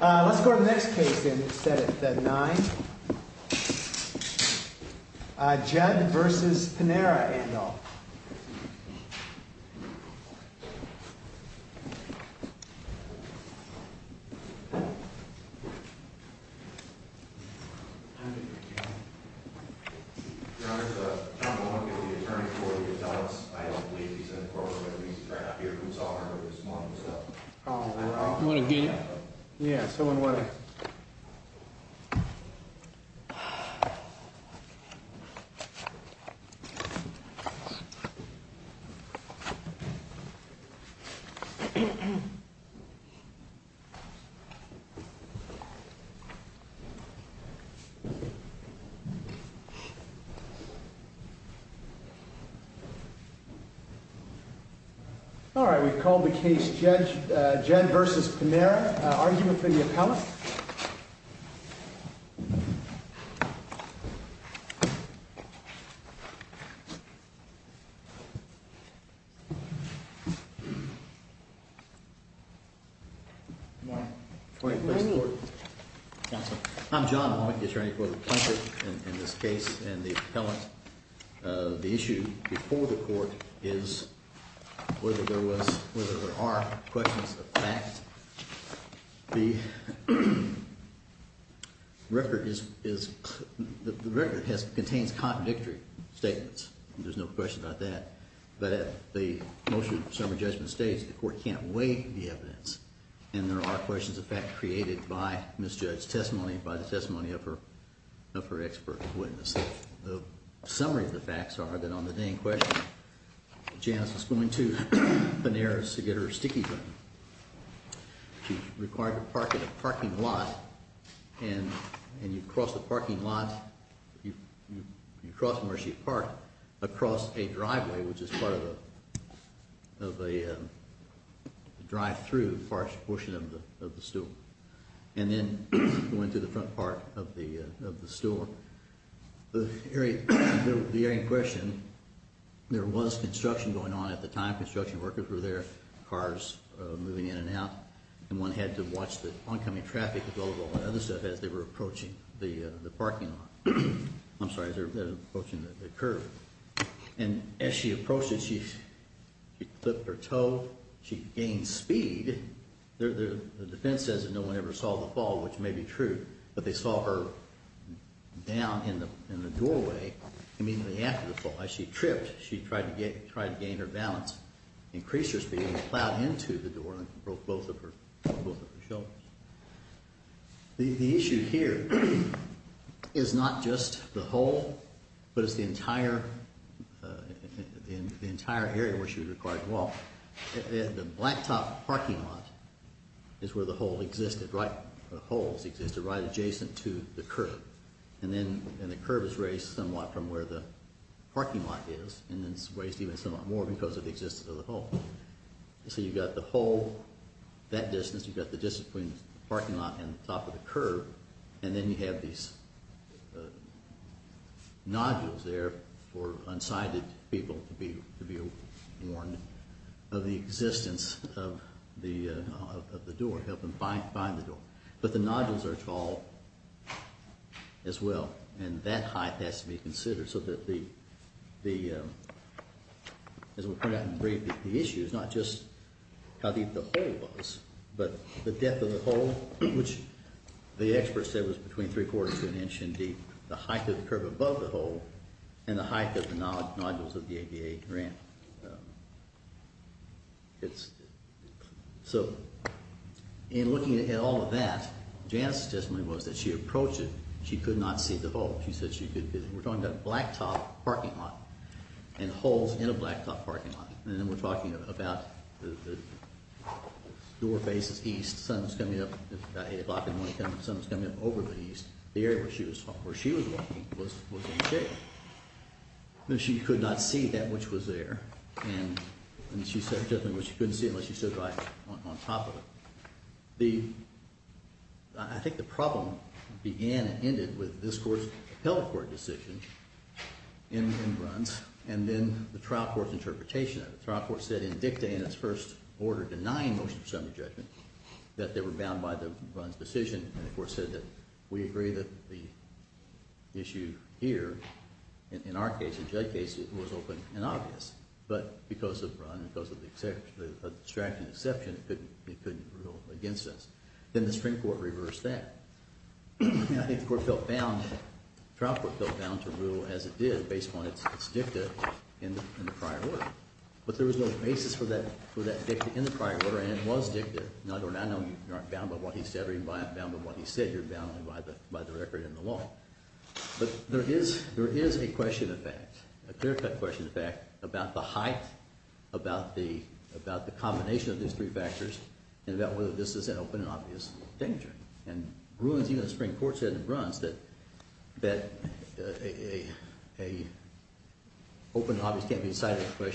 Let's go to the next case in the 9th. Judd v. Panera, Ando Your Honor, John Mahoney is the attorney for the adults. I don't believe he's an incorporated witness. He's right out here. We saw him earlier this morning. You want to get him? Yeah, someone want to... All right, we've called the case Judd v. Panera. Argument from the appellant. I'm John Mahoney, attorney for the plaintiff in this case and the appellant. The issue before the court is whether there was, whether there are questions of facts. The record is, the record contains contradictory statements. There's no question about that. But the motion of summary judgment states the court can't weigh the evidence and there are questions of fact created by misjudged testimony, by the testimony of her expert witness. The summary of the facts are that on the day in question, Janice was going to Panera's to get her sticky drink. She's required to park at a parking lot and you cross the parking lot, you cross Mercy Park, across a driveway which is part of a drive-through portion of the stool. And then went to the front part of the stool. The area in question, there was construction going on at the time. Construction workers were there, cars moving in and out. And one had to watch the oncoming traffic as they were approaching the parking lot. I'm sorry, as they were approaching the curb. And as she approached it, she clipped her toe, she gained speed. The defense says that no one ever saw the fall, which may be true, but they saw her down in the doorway immediately after the fall. As she tripped, she tried to gain her balance, increase her speed and plowed into the door and broke both of her shoulders. The issue here is not just the hole, but it's the entire area where she was required to walk. The blacktop parking lot is where the hole existed, right adjacent to the curb. And the curb is raised somewhat from where the parking lot is and it's raised even somewhat more because of the existence of the hole. So you've got the hole that distance, you've got the distance between the parking lot and the top of the curb. And then you have these nodules there for unsighted people to be warned of the existence of the door, help them find the door. But the nodules are tall as well. And that height has to be considered so that the issue is not just how deep the hole was, but the depth of the hole, which the experts said was between three quarters of an inch in deep, the height of the curb above the hole and the height of the nodules of the ADA ramp. So in looking at all of that, Janice's testimony was that she approached it, she could not see the hole. We're talking about a blacktop parking lot and holes in a blacktop parking lot. And then we're talking about the door faces east. The sun was coming up, about 8 o'clock in the morning, the sun was coming up over the east. The area where she was walking was in shape. And she could not see that which was there. And she said she couldn't see it unless she stood right on top of it. I think the problem began and ended with this court's appellate court decision in Bruns and then the trial court's interpretation of it. The trial court said in dicta in its first order, denying motion for summary judgment, that they were bound by the Bruns decision. And the court said that we agree that the issue here, in our case, in Jay's case, was open and obvious. But because of Bruns, because of the extraction exception, it couldn't rule against us. Then the Supreme Court reversed that. And I think the court felt bound, the trial court felt bound to rule as it did, based upon its dicta in the prior order. But there was no basis for that dicta in the prior order and it was dicta. I know you aren't bound by what he said or you're not bound by what he said. You're bound only by the record in the law. But there is a question of fact, a clear-cut question of fact, about the height, about the combination of these three factors, and about whether this is an open and obvious danger. And Bruns, even the Supreme Court, said in Bruns that an open and obvious can't be decided by a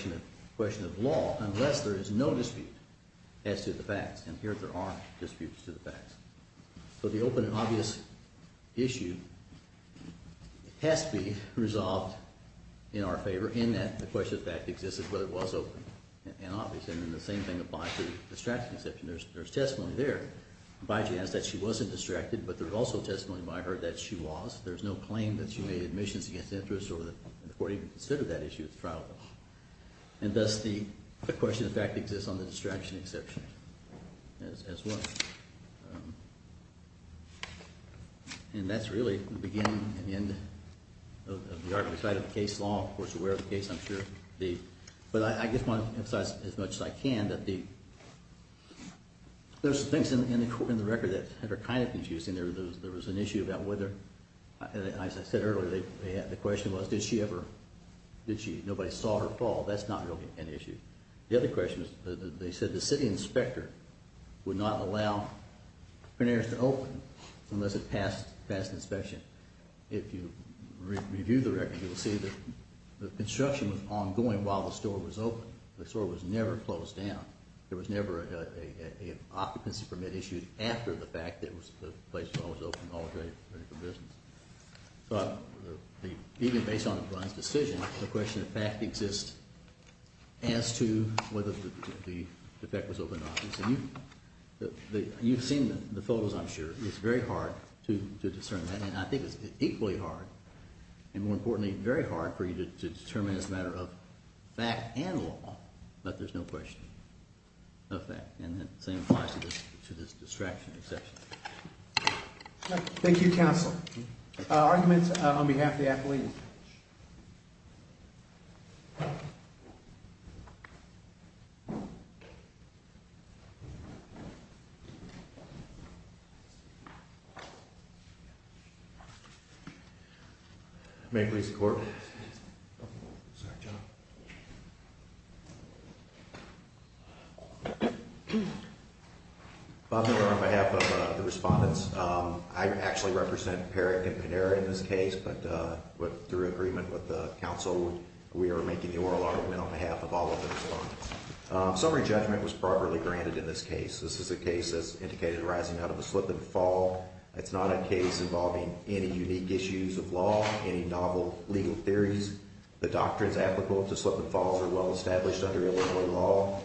question of law unless there is no dispute as to the facts. And here there are disputes to the facts. So the open and obvious issue has to be resolved in our favor in that the question of fact existed, whether it was open and obvious. And then the same thing applies to the extraction exception. There's testimony there by Janice that she wasn't distracted, but there's also testimony by her that she was. There's no claim that she made admissions against interest or that the court even considered that issue at the trial. And thus the question of fact exists on the extraction exception as well. And that's really the beginning and end of the artful side of the case law. Of course, we're aware of the case, I'm sure. But I just want to emphasize as much as I can that there's things in the record that are kind of confusing. There was an issue about whether, as I said earlier, the question was did she ever, nobody saw her fall. That's not really an issue. The other question is they said the city inspector would not allow preneurs to open unless it passed inspection. If you review the record, you'll see that the construction was ongoing while the store was open. The store was never closed down. There was never an occupancy permit issued after the fact that the place was always open all day for business. But even based on the Brun's decision, the question of fact exists as to whether the effect was open or not. You've seen the photos, I'm sure. It's very hard to discern that. And I think it's equally hard and, more importantly, very hard for you to determine as a matter of fact and law. But there's no question of that. And that same applies to this distraction exception. Thank you, Counselor. Arguments on behalf of the athlete. May I please have the Court? Sorry, John. Bob Miller on behalf of the respondents. I actually represent Parrick and Panera in this case, but through agreement with the Council, we are making the oral argument on behalf of all of the respondents. Summary judgment was properly granted in this case. This is a case that's indicated rising out of a slip and fall. It's not a case involving any unique issues of law, any novel legal theories. The doctrines applicable to slip and falls are well established under Illinois law.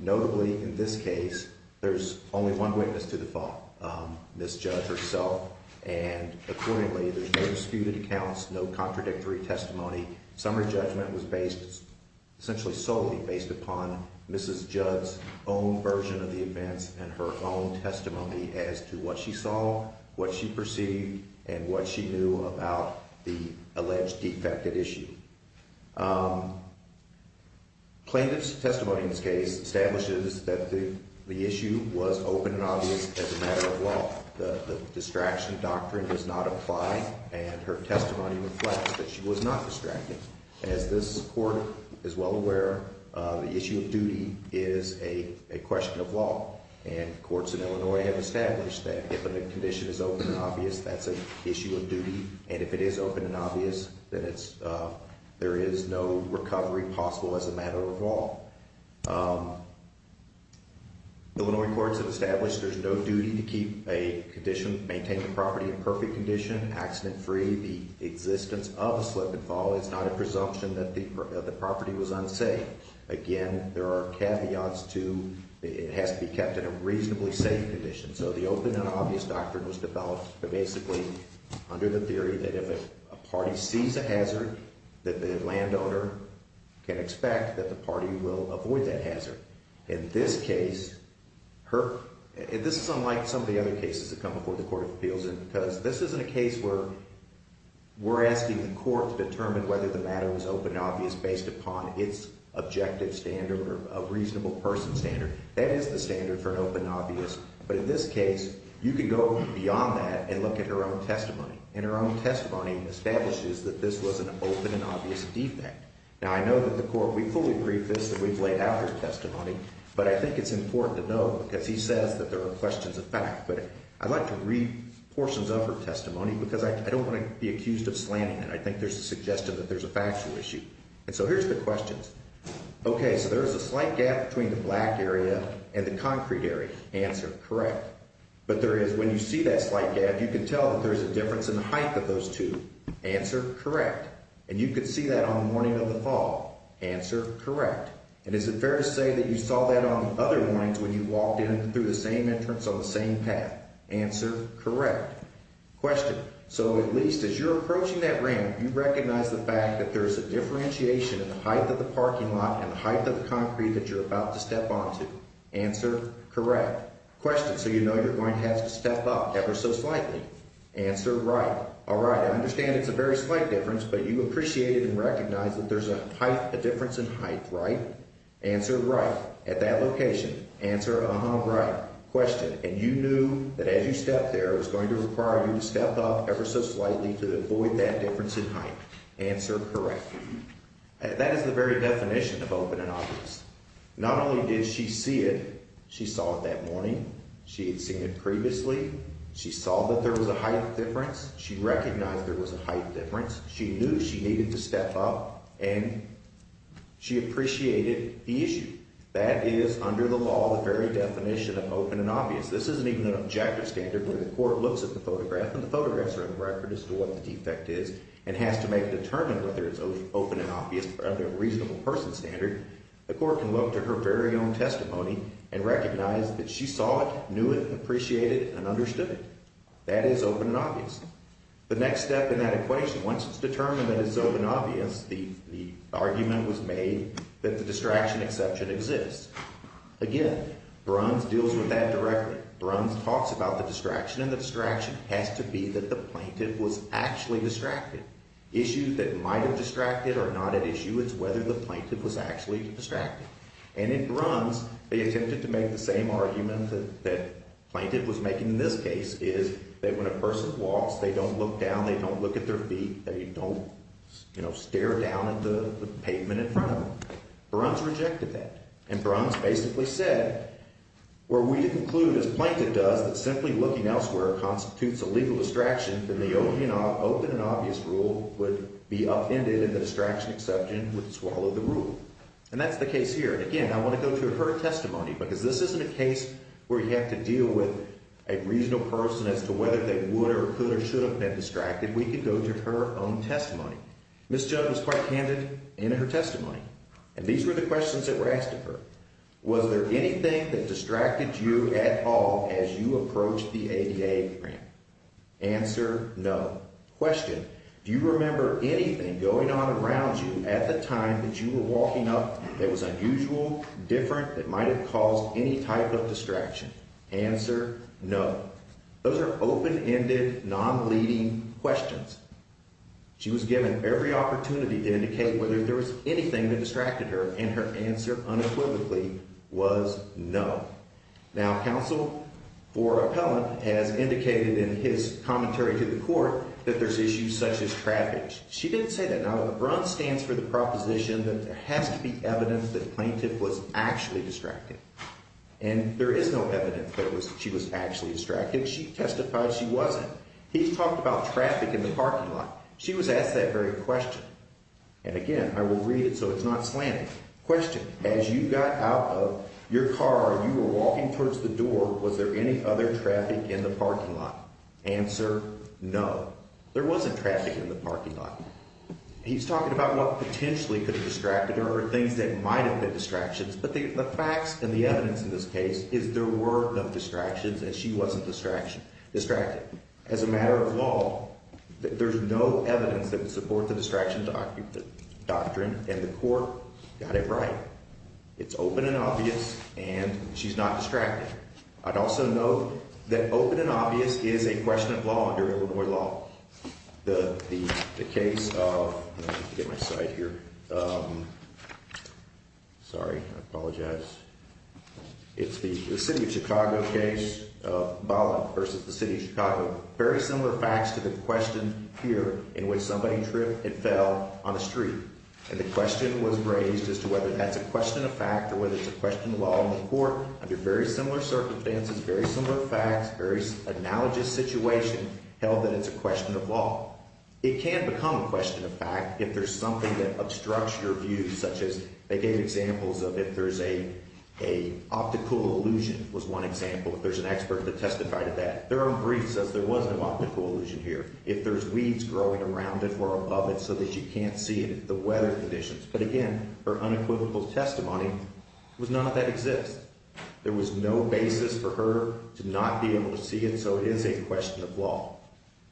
Notably, in this case, there's only one witness to the fall, Ms. Judd herself. And accordingly, there's no disputed accounts, no contradictory testimony. Summary judgment was based essentially solely based upon Mrs. Judd's own version of the events and her own testimony as to what she saw, what she perceived, and what she knew about the alleged defected issue. Plaintiff's testimony in this case establishes that the issue was open and obvious as a matter of law. The distraction doctrine does not apply, and her testimony reflects that she was not distracted. As this court is well aware, the issue of duty is a question of law. And courts in Illinois have established that if a condition is open and obvious, that's an issue of duty. And if it is open and obvious, then there is no recovery possible as a matter of law. Illinois courts have established there's no duty to keep a condition, maintain the property in perfect condition, accident-free. The existence of a slip and fall is not a presumption that the property was unsafe. Again, there are caveats to it has to be kept in a reasonably safe condition. So the open and obvious doctrine was developed basically under the theory that if a party sees a hazard that the landowner can expect that the party will avoid that hazard. In this case, this is unlike some of the other cases that come before the Court of Appeals because this isn't a case where we're asking the court to determine whether the matter was open and obvious based upon its objective standard or a reasonable person standard. That is the standard for an open and obvious. But in this case, you can go beyond that and look at her own testimony. And her own testimony establishes that this was an open and obvious defect. Now, I know that the court, we fully agree with this that we've laid out her testimony. But I think it's important to know because he says that there are questions of fact. But I'd like to read portions of her testimony because I don't want to be accused of slamming it. I think there's a suggestion that there's a factual issue. And so here's the questions. Okay, so there's a slight gap between the black area and the concrete area. Answer, correct. But there is, when you see that slight gap, you can tell that there's a difference in the height of those two. Answer, correct. And you could see that on the morning of the fall. Answer, correct. And is it fair to say that you saw that on other mornings when you walked in through the same entrance on the same path? Answer, correct. Question, so at least as you're approaching that ramp, you recognize the fact that there's a differentiation in the height of the parking lot and the height of the concrete that you're about to step onto. Answer, correct. Question, so you know you're going to have to step up ever so slightly. Answer, right. All right, I understand it's a very slight difference, but you appreciated and recognized that there's a difference in height, right? Answer, right, at that location. Answer, uh-huh, right. Question, and you knew that as you stepped there, it was going to require you to step up ever so slightly to avoid that difference in height. Answer, correct. That is the very definition of open and obvious. Not only did she see it, she saw it that morning. She had seen it previously. She saw that there was a height difference. She recognized there was a height difference. She knew she needed to step up, and she appreciated the issue. That is under the law the very definition of open and obvious. This isn't even an objective standard where the court looks at the photograph, and the photographs are in the record as to what the defect is and has to make a determination whether it's open and obvious or under a reasonable person standard. The court can look to her very own testimony and recognize that she saw it, knew it, appreciated it, and understood it. That is open and obvious. The next step in that equation, once it's determined that it's open and obvious, the argument was made that the distraction exception exists. Again, Bruns deals with that directly. Bruns talks about the distraction, and the distraction has to be that the plaintiff was actually distracted. Issues that might have distracted are not at issue. It's whether the plaintiff was actually distracted. And in Bruns, they attempted to make the same argument that the plaintiff was making in this case, is that when a person walks, they don't look down, they don't look at their feet, they don't stare down at the pavement in front of them. Bruns rejected that. And Bruns basically said, were we to conclude, as a plaintiff does, that simply looking elsewhere constitutes a legal distraction, then the open and obvious rule would be upended and the distraction exception would swallow the rule. And that's the case here. And again, I want to go to her testimony, because this isn't a case where you have to deal with a reasonable person as to whether they would or could or should have been distracted. We could go to her own testimony. Ms. Judd was quite candid in her testimony. And these were the questions that were asked of her. Was there anything that distracted you at all as you approached the ADA grant? Answer, no. Question, do you remember anything going on around you at the time that you were walking up that was unusual, different, that might have caused any type of distraction? Answer, no. Those are open-ended, non-leading questions. She was given every opportunity to indicate whether there was anything that distracted her, and her answer, unequivocally, was no. Now, counsel or appellant has indicated in his commentary to the court that there's issues such as traffic. She didn't say that. Now, the bronze stands for the proposition that there has to be evidence that the plaintiff was actually distracted. And there is no evidence that she was actually distracted. She testified she wasn't. He talked about traffic in the parking lot. She was asked that very question. And again, I will read it so it's not slanted. Question, as you got out of your car and you were walking towards the door, was there any other traffic in the parking lot? Answer, no. There wasn't traffic in the parking lot. He's talking about what potentially could have distracted her or things that might have been distractions. But the facts and the evidence in this case is there were no distractions and she wasn't distracted. As a matter of law, there's no evidence that would support the distraction doctrine, and the court got it right. It's open and obvious, and she's not distracted. I'd also note that open and obvious is a question of law under Illinois law. The case of, let me get my side here. Sorry, I apologize. It's the city of Chicago case of Bolland versus the city of Chicago. Very similar facts to the question here in which somebody tripped and fell on the street. And the question was raised as to whether that's a question of fact or whether it's a question of law in the court. Under very similar circumstances, very similar facts, very analogous situation, held that it's a question of law. It can become a question of fact if there's something that obstructs your view, such as they gave examples of if there's a optical illusion was one example. If there's an expert that testified to that. Their own brief says there was no optical illusion here. If there's weeds growing around it or above it so that you can't see it, the weather conditions. But again, her unequivocal testimony was none of that exists. There was no basis for her to not be able to see it. So it is a question of law.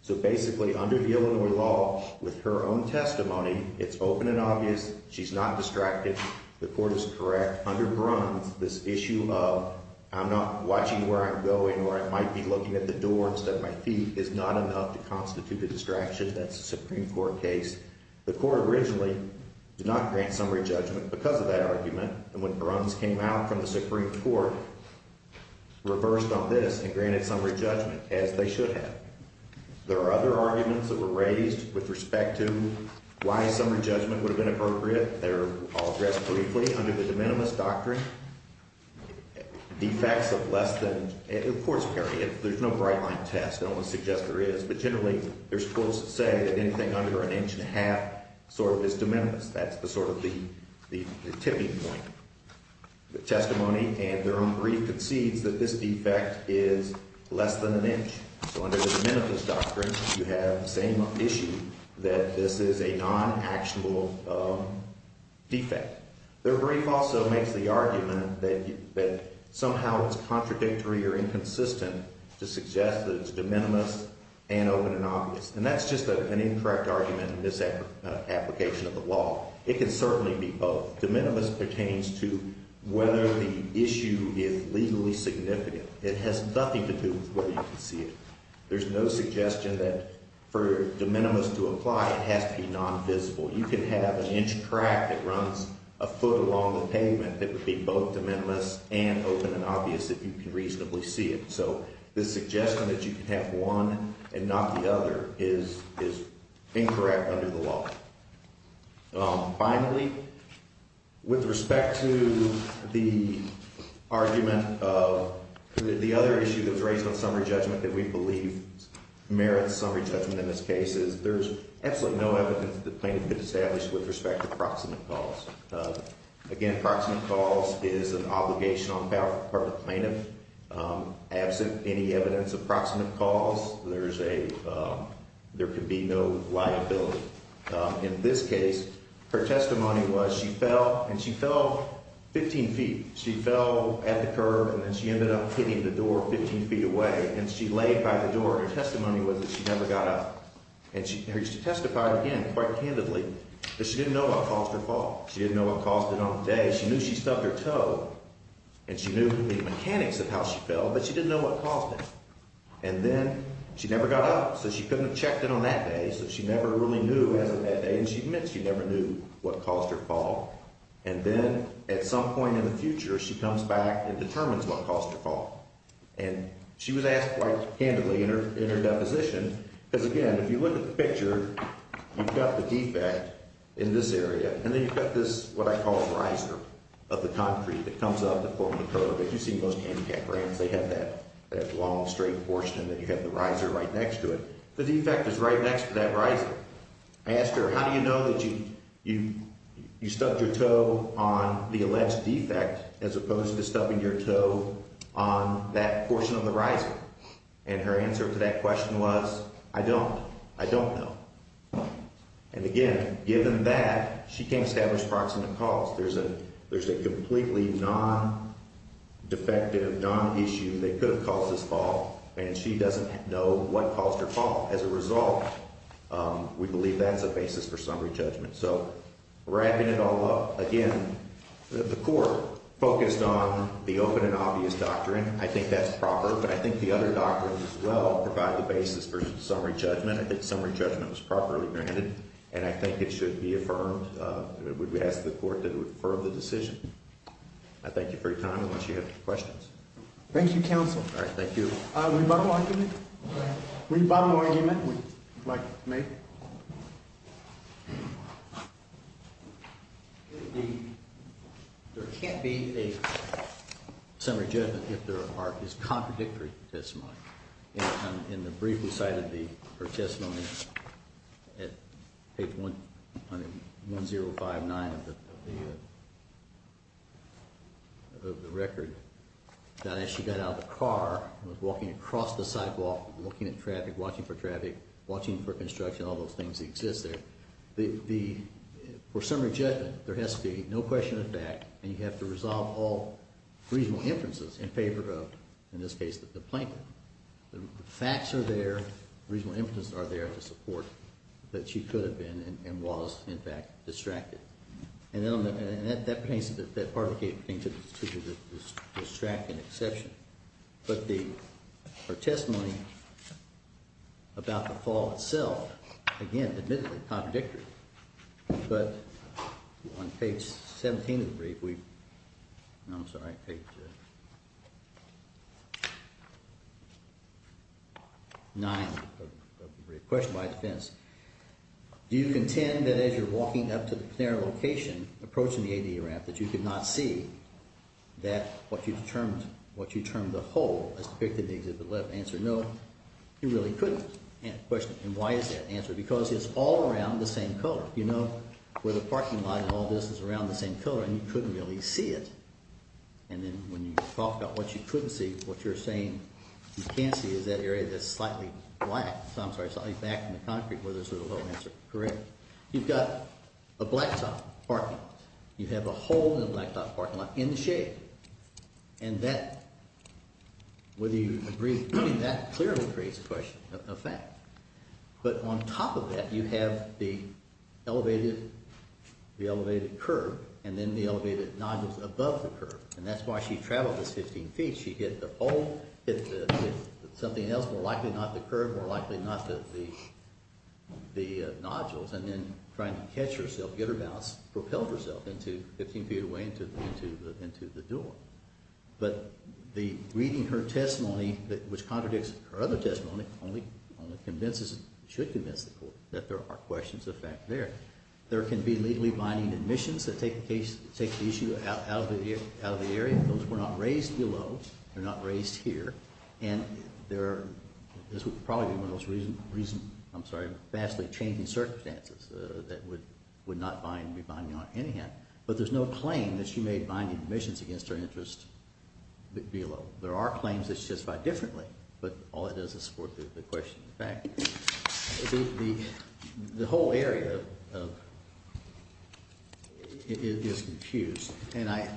So basically, under the Illinois law, with her own testimony, it's open and obvious. She's not distracted. The court is correct. Under Bruns, this issue of I'm not watching where I'm going or I might be looking at the door instead of my feet is not enough to constitute a distraction. That's a Supreme Court case. The court originally did not grant summary judgment because of that argument. And when Bruns came out from the Supreme Court, reversed on this and granted summary judgment, as they should have. There are other arguments that were raised with respect to why summary judgment would have been appropriate. They're all addressed briefly under the de minimis doctrine. Defects of less than, of course, there's no bright line test. I don't want to suggest there is. But generally, there's quotes that say that anything under an inch and a half sort of is de minimis. That's sort of the tipping point. The testimony and their own brief concedes that this defect is less than an inch. So under the de minimis doctrine, you have the same issue that this is a non-actual defect. Their brief also makes the argument that somehow it's contradictory or inconsistent to suggest that it's de minimis and open and obvious. And that's just an incorrect argument in this application of the law. It can certainly be both. De minimis pertains to whether the issue is legally significant. It has nothing to do with whether you can see it. There's no suggestion that for de minimis to apply, it has to be non-visible. You can have an inch crack that runs a foot along the pavement that would be both de minimis and open and obvious if you can reasonably see it. So the suggestion that you can have one and not the other is incorrect under the law. Finally, with respect to the argument of the other issue that was raised on summary judgment that we believe merits summary judgment in this case, is there's absolutely no evidence that the plaintiff could establish with respect to proximate cause. Again, proximate cause is an obligation on the part of the plaintiff. Absent any evidence of proximate cause, there could be no liability. In this case, her testimony was she fell, and she fell 15 feet. She fell at the curb, and then she ended up hitting the door 15 feet away, and she laid by the door. Her testimony was that she never got up. And she used to testify again quite candidly, but she didn't know what caused her fall. She didn't know what caused it on the day. Again, she knew she stubbed her toe, and she knew the mechanics of how she fell, but she didn't know what caused it. And then she never got up, so she couldn't have checked in on that day, so she never really knew as of that day, and she admits she never knew what caused her fall. And then at some point in the future, she comes back and determines what caused her fall. And she was asked quite candidly in her deposition because, again, if you look at the picture, you've got the defect in this area, and then you've got this what I call riser of the concrete that comes up in front of the curb. As you see in most handicap ramps, they have that long, straight portion, and then you have the riser right next to it. The defect is right next to that riser. I asked her, how do you know that you stubbed your toe on the alleged defect as opposed to stubbing your toe on that portion of the riser? And her answer to that question was, I don't. I don't know. And, again, given that, she can't establish proximate cause. There's a completely non-defective, non-issue that could have caused this fall, and she doesn't know what caused her fall. As a result, we believe that's a basis for summary judgment. So wrapping it all up, again, the court focused on the open and obvious doctrine. I think that's proper, but I think the other doctrines as well provide the basis for summary judgment. I think summary judgment is properly granted, and I think it should be affirmed. We would ask the court to defer the decision. I thank you for your time. I want you to have questions. Thank you, counsel. All right, thank you. Would you bottom the argument? Go ahead. Would you bottom the argument? Would you like to make it? There can't be a summary judgment if there is contradictory testimony. In the brief we cited, her testimony at page 1059 of the record, that as she got out of the car and was walking across the sidewalk, looking at traffic, watching for traffic, watching for construction, all those things exist there. For summary judgment, there has to be no question of fact, and you have to resolve all reasonable inferences in favor of, in this case, the plaintiff. The facts are there, reasonable inferences are there to support that she could have been and was, in fact, distracted. And that part of the case pertains to the distracted exception. But her testimony about the fall itself, again, admittedly contradictory, but on page 17 of the brief, no, I'm sorry, page 9 of the brief, question by defense, do you contend that as you're walking up to the plenary location, approaching the AD ramp, that you could not see that what you termed a hole as depicted in the exhibit left? Answer, no, you really couldn't. And why is that an answer? Because it's all around the same color. You know where the parking lot and all this is around the same color, and you couldn't really see it. And then when you talk about what you couldn't see, what you're saying you can see is that area that's slightly black, so I'm sorry, slightly back in the concrete where there's sort of a low answer. Correct. You've got a blacktop parking lot. You have a hole in the blacktop parking lot in the shade. And that, whether you agree with me, that clearly creates a question, a fact. But on top of that, you have the elevated curb and then the elevated nodules above the curb, and that's why she traveled those 15 feet. She hit the pole, hit something else, more likely not the curb, more likely not the nodules, and then trying to catch herself, get her balance, propelled herself 15 feet away into the door. But reading her testimony, which contradicts her other testimony, only convinces, should convince the court, that there are questions of fact there. There can be legally binding admissions that take the issue out of the area. Those were not raised below. They're not raised here. And this would probably be one of those recent, I'm sorry, vastly changing circumstances that would not be binding on any hand. But there's no claim that she made binding admissions against her interest below. There are claims that she testified differently, but all that does is support the question of fact. The whole area is confused. And I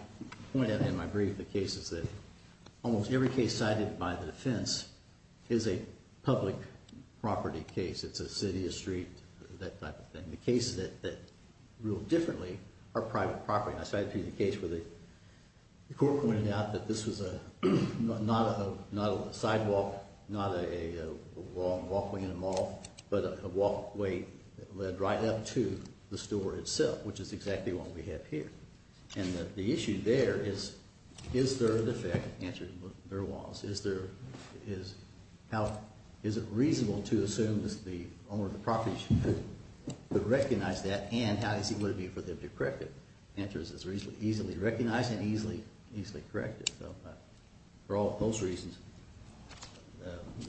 pointed out in my brief the cases that almost every case cited by the defense is a public property case. It's a city, a street, that type of thing. The cases that rule differently are private property. And I cited the case where the court pointed out that this was not a sidewalk, not a long walkway in a mall, but a walkway that led right up to the store itself, which is exactly what we have here. And the issue there is, is there an effect? Answer is there was. Is there, is, how, is it reasonable to assume that the owner of the property should recognize that? And how easy would it be for them to correct it? Answer is it's reasonably, easily recognized and easily, easily corrected. For all of those reasons.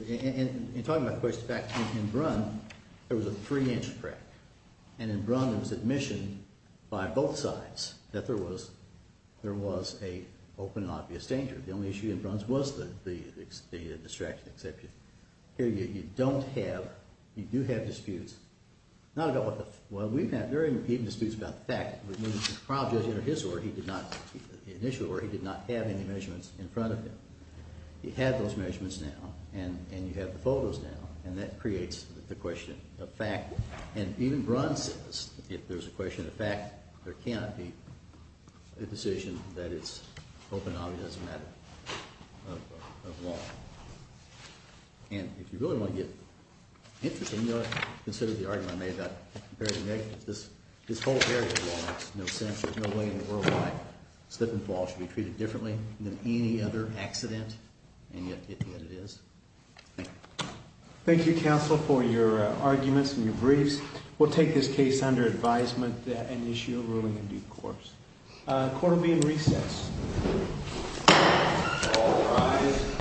In talking about the question of fact, in Brunn, there was a three-inch crack. And in Brunn, it was admission by both sides that there was, there was an open and obvious danger. The only issue in Brunn's was the distraction exception. Here you don't have, you do have disputes. Not about what the, well, we've had very repeated disputes about the fact. Which means the trial judge, in his order, he did not, in his initial order, he did not have any measurements in front of him. He had those measurements now. And, and you have the photos now. And that creates the question of fact. And even Brunn says, if there's a question of fact, there cannot be a decision that it's open and obvious as a matter of law. And if you really want to get interesting, you know what? Consider the argument I made about comparing the negatives. This whole area of law makes no sense. There's no way in the world why slip and fall should be treated differently than any other accident. And yet, yet it is. Thank you. Thank you, counsel, for your arguments and your briefs. We'll take this case under advisement and issue a ruling in due course. Court will be in recess. All rise.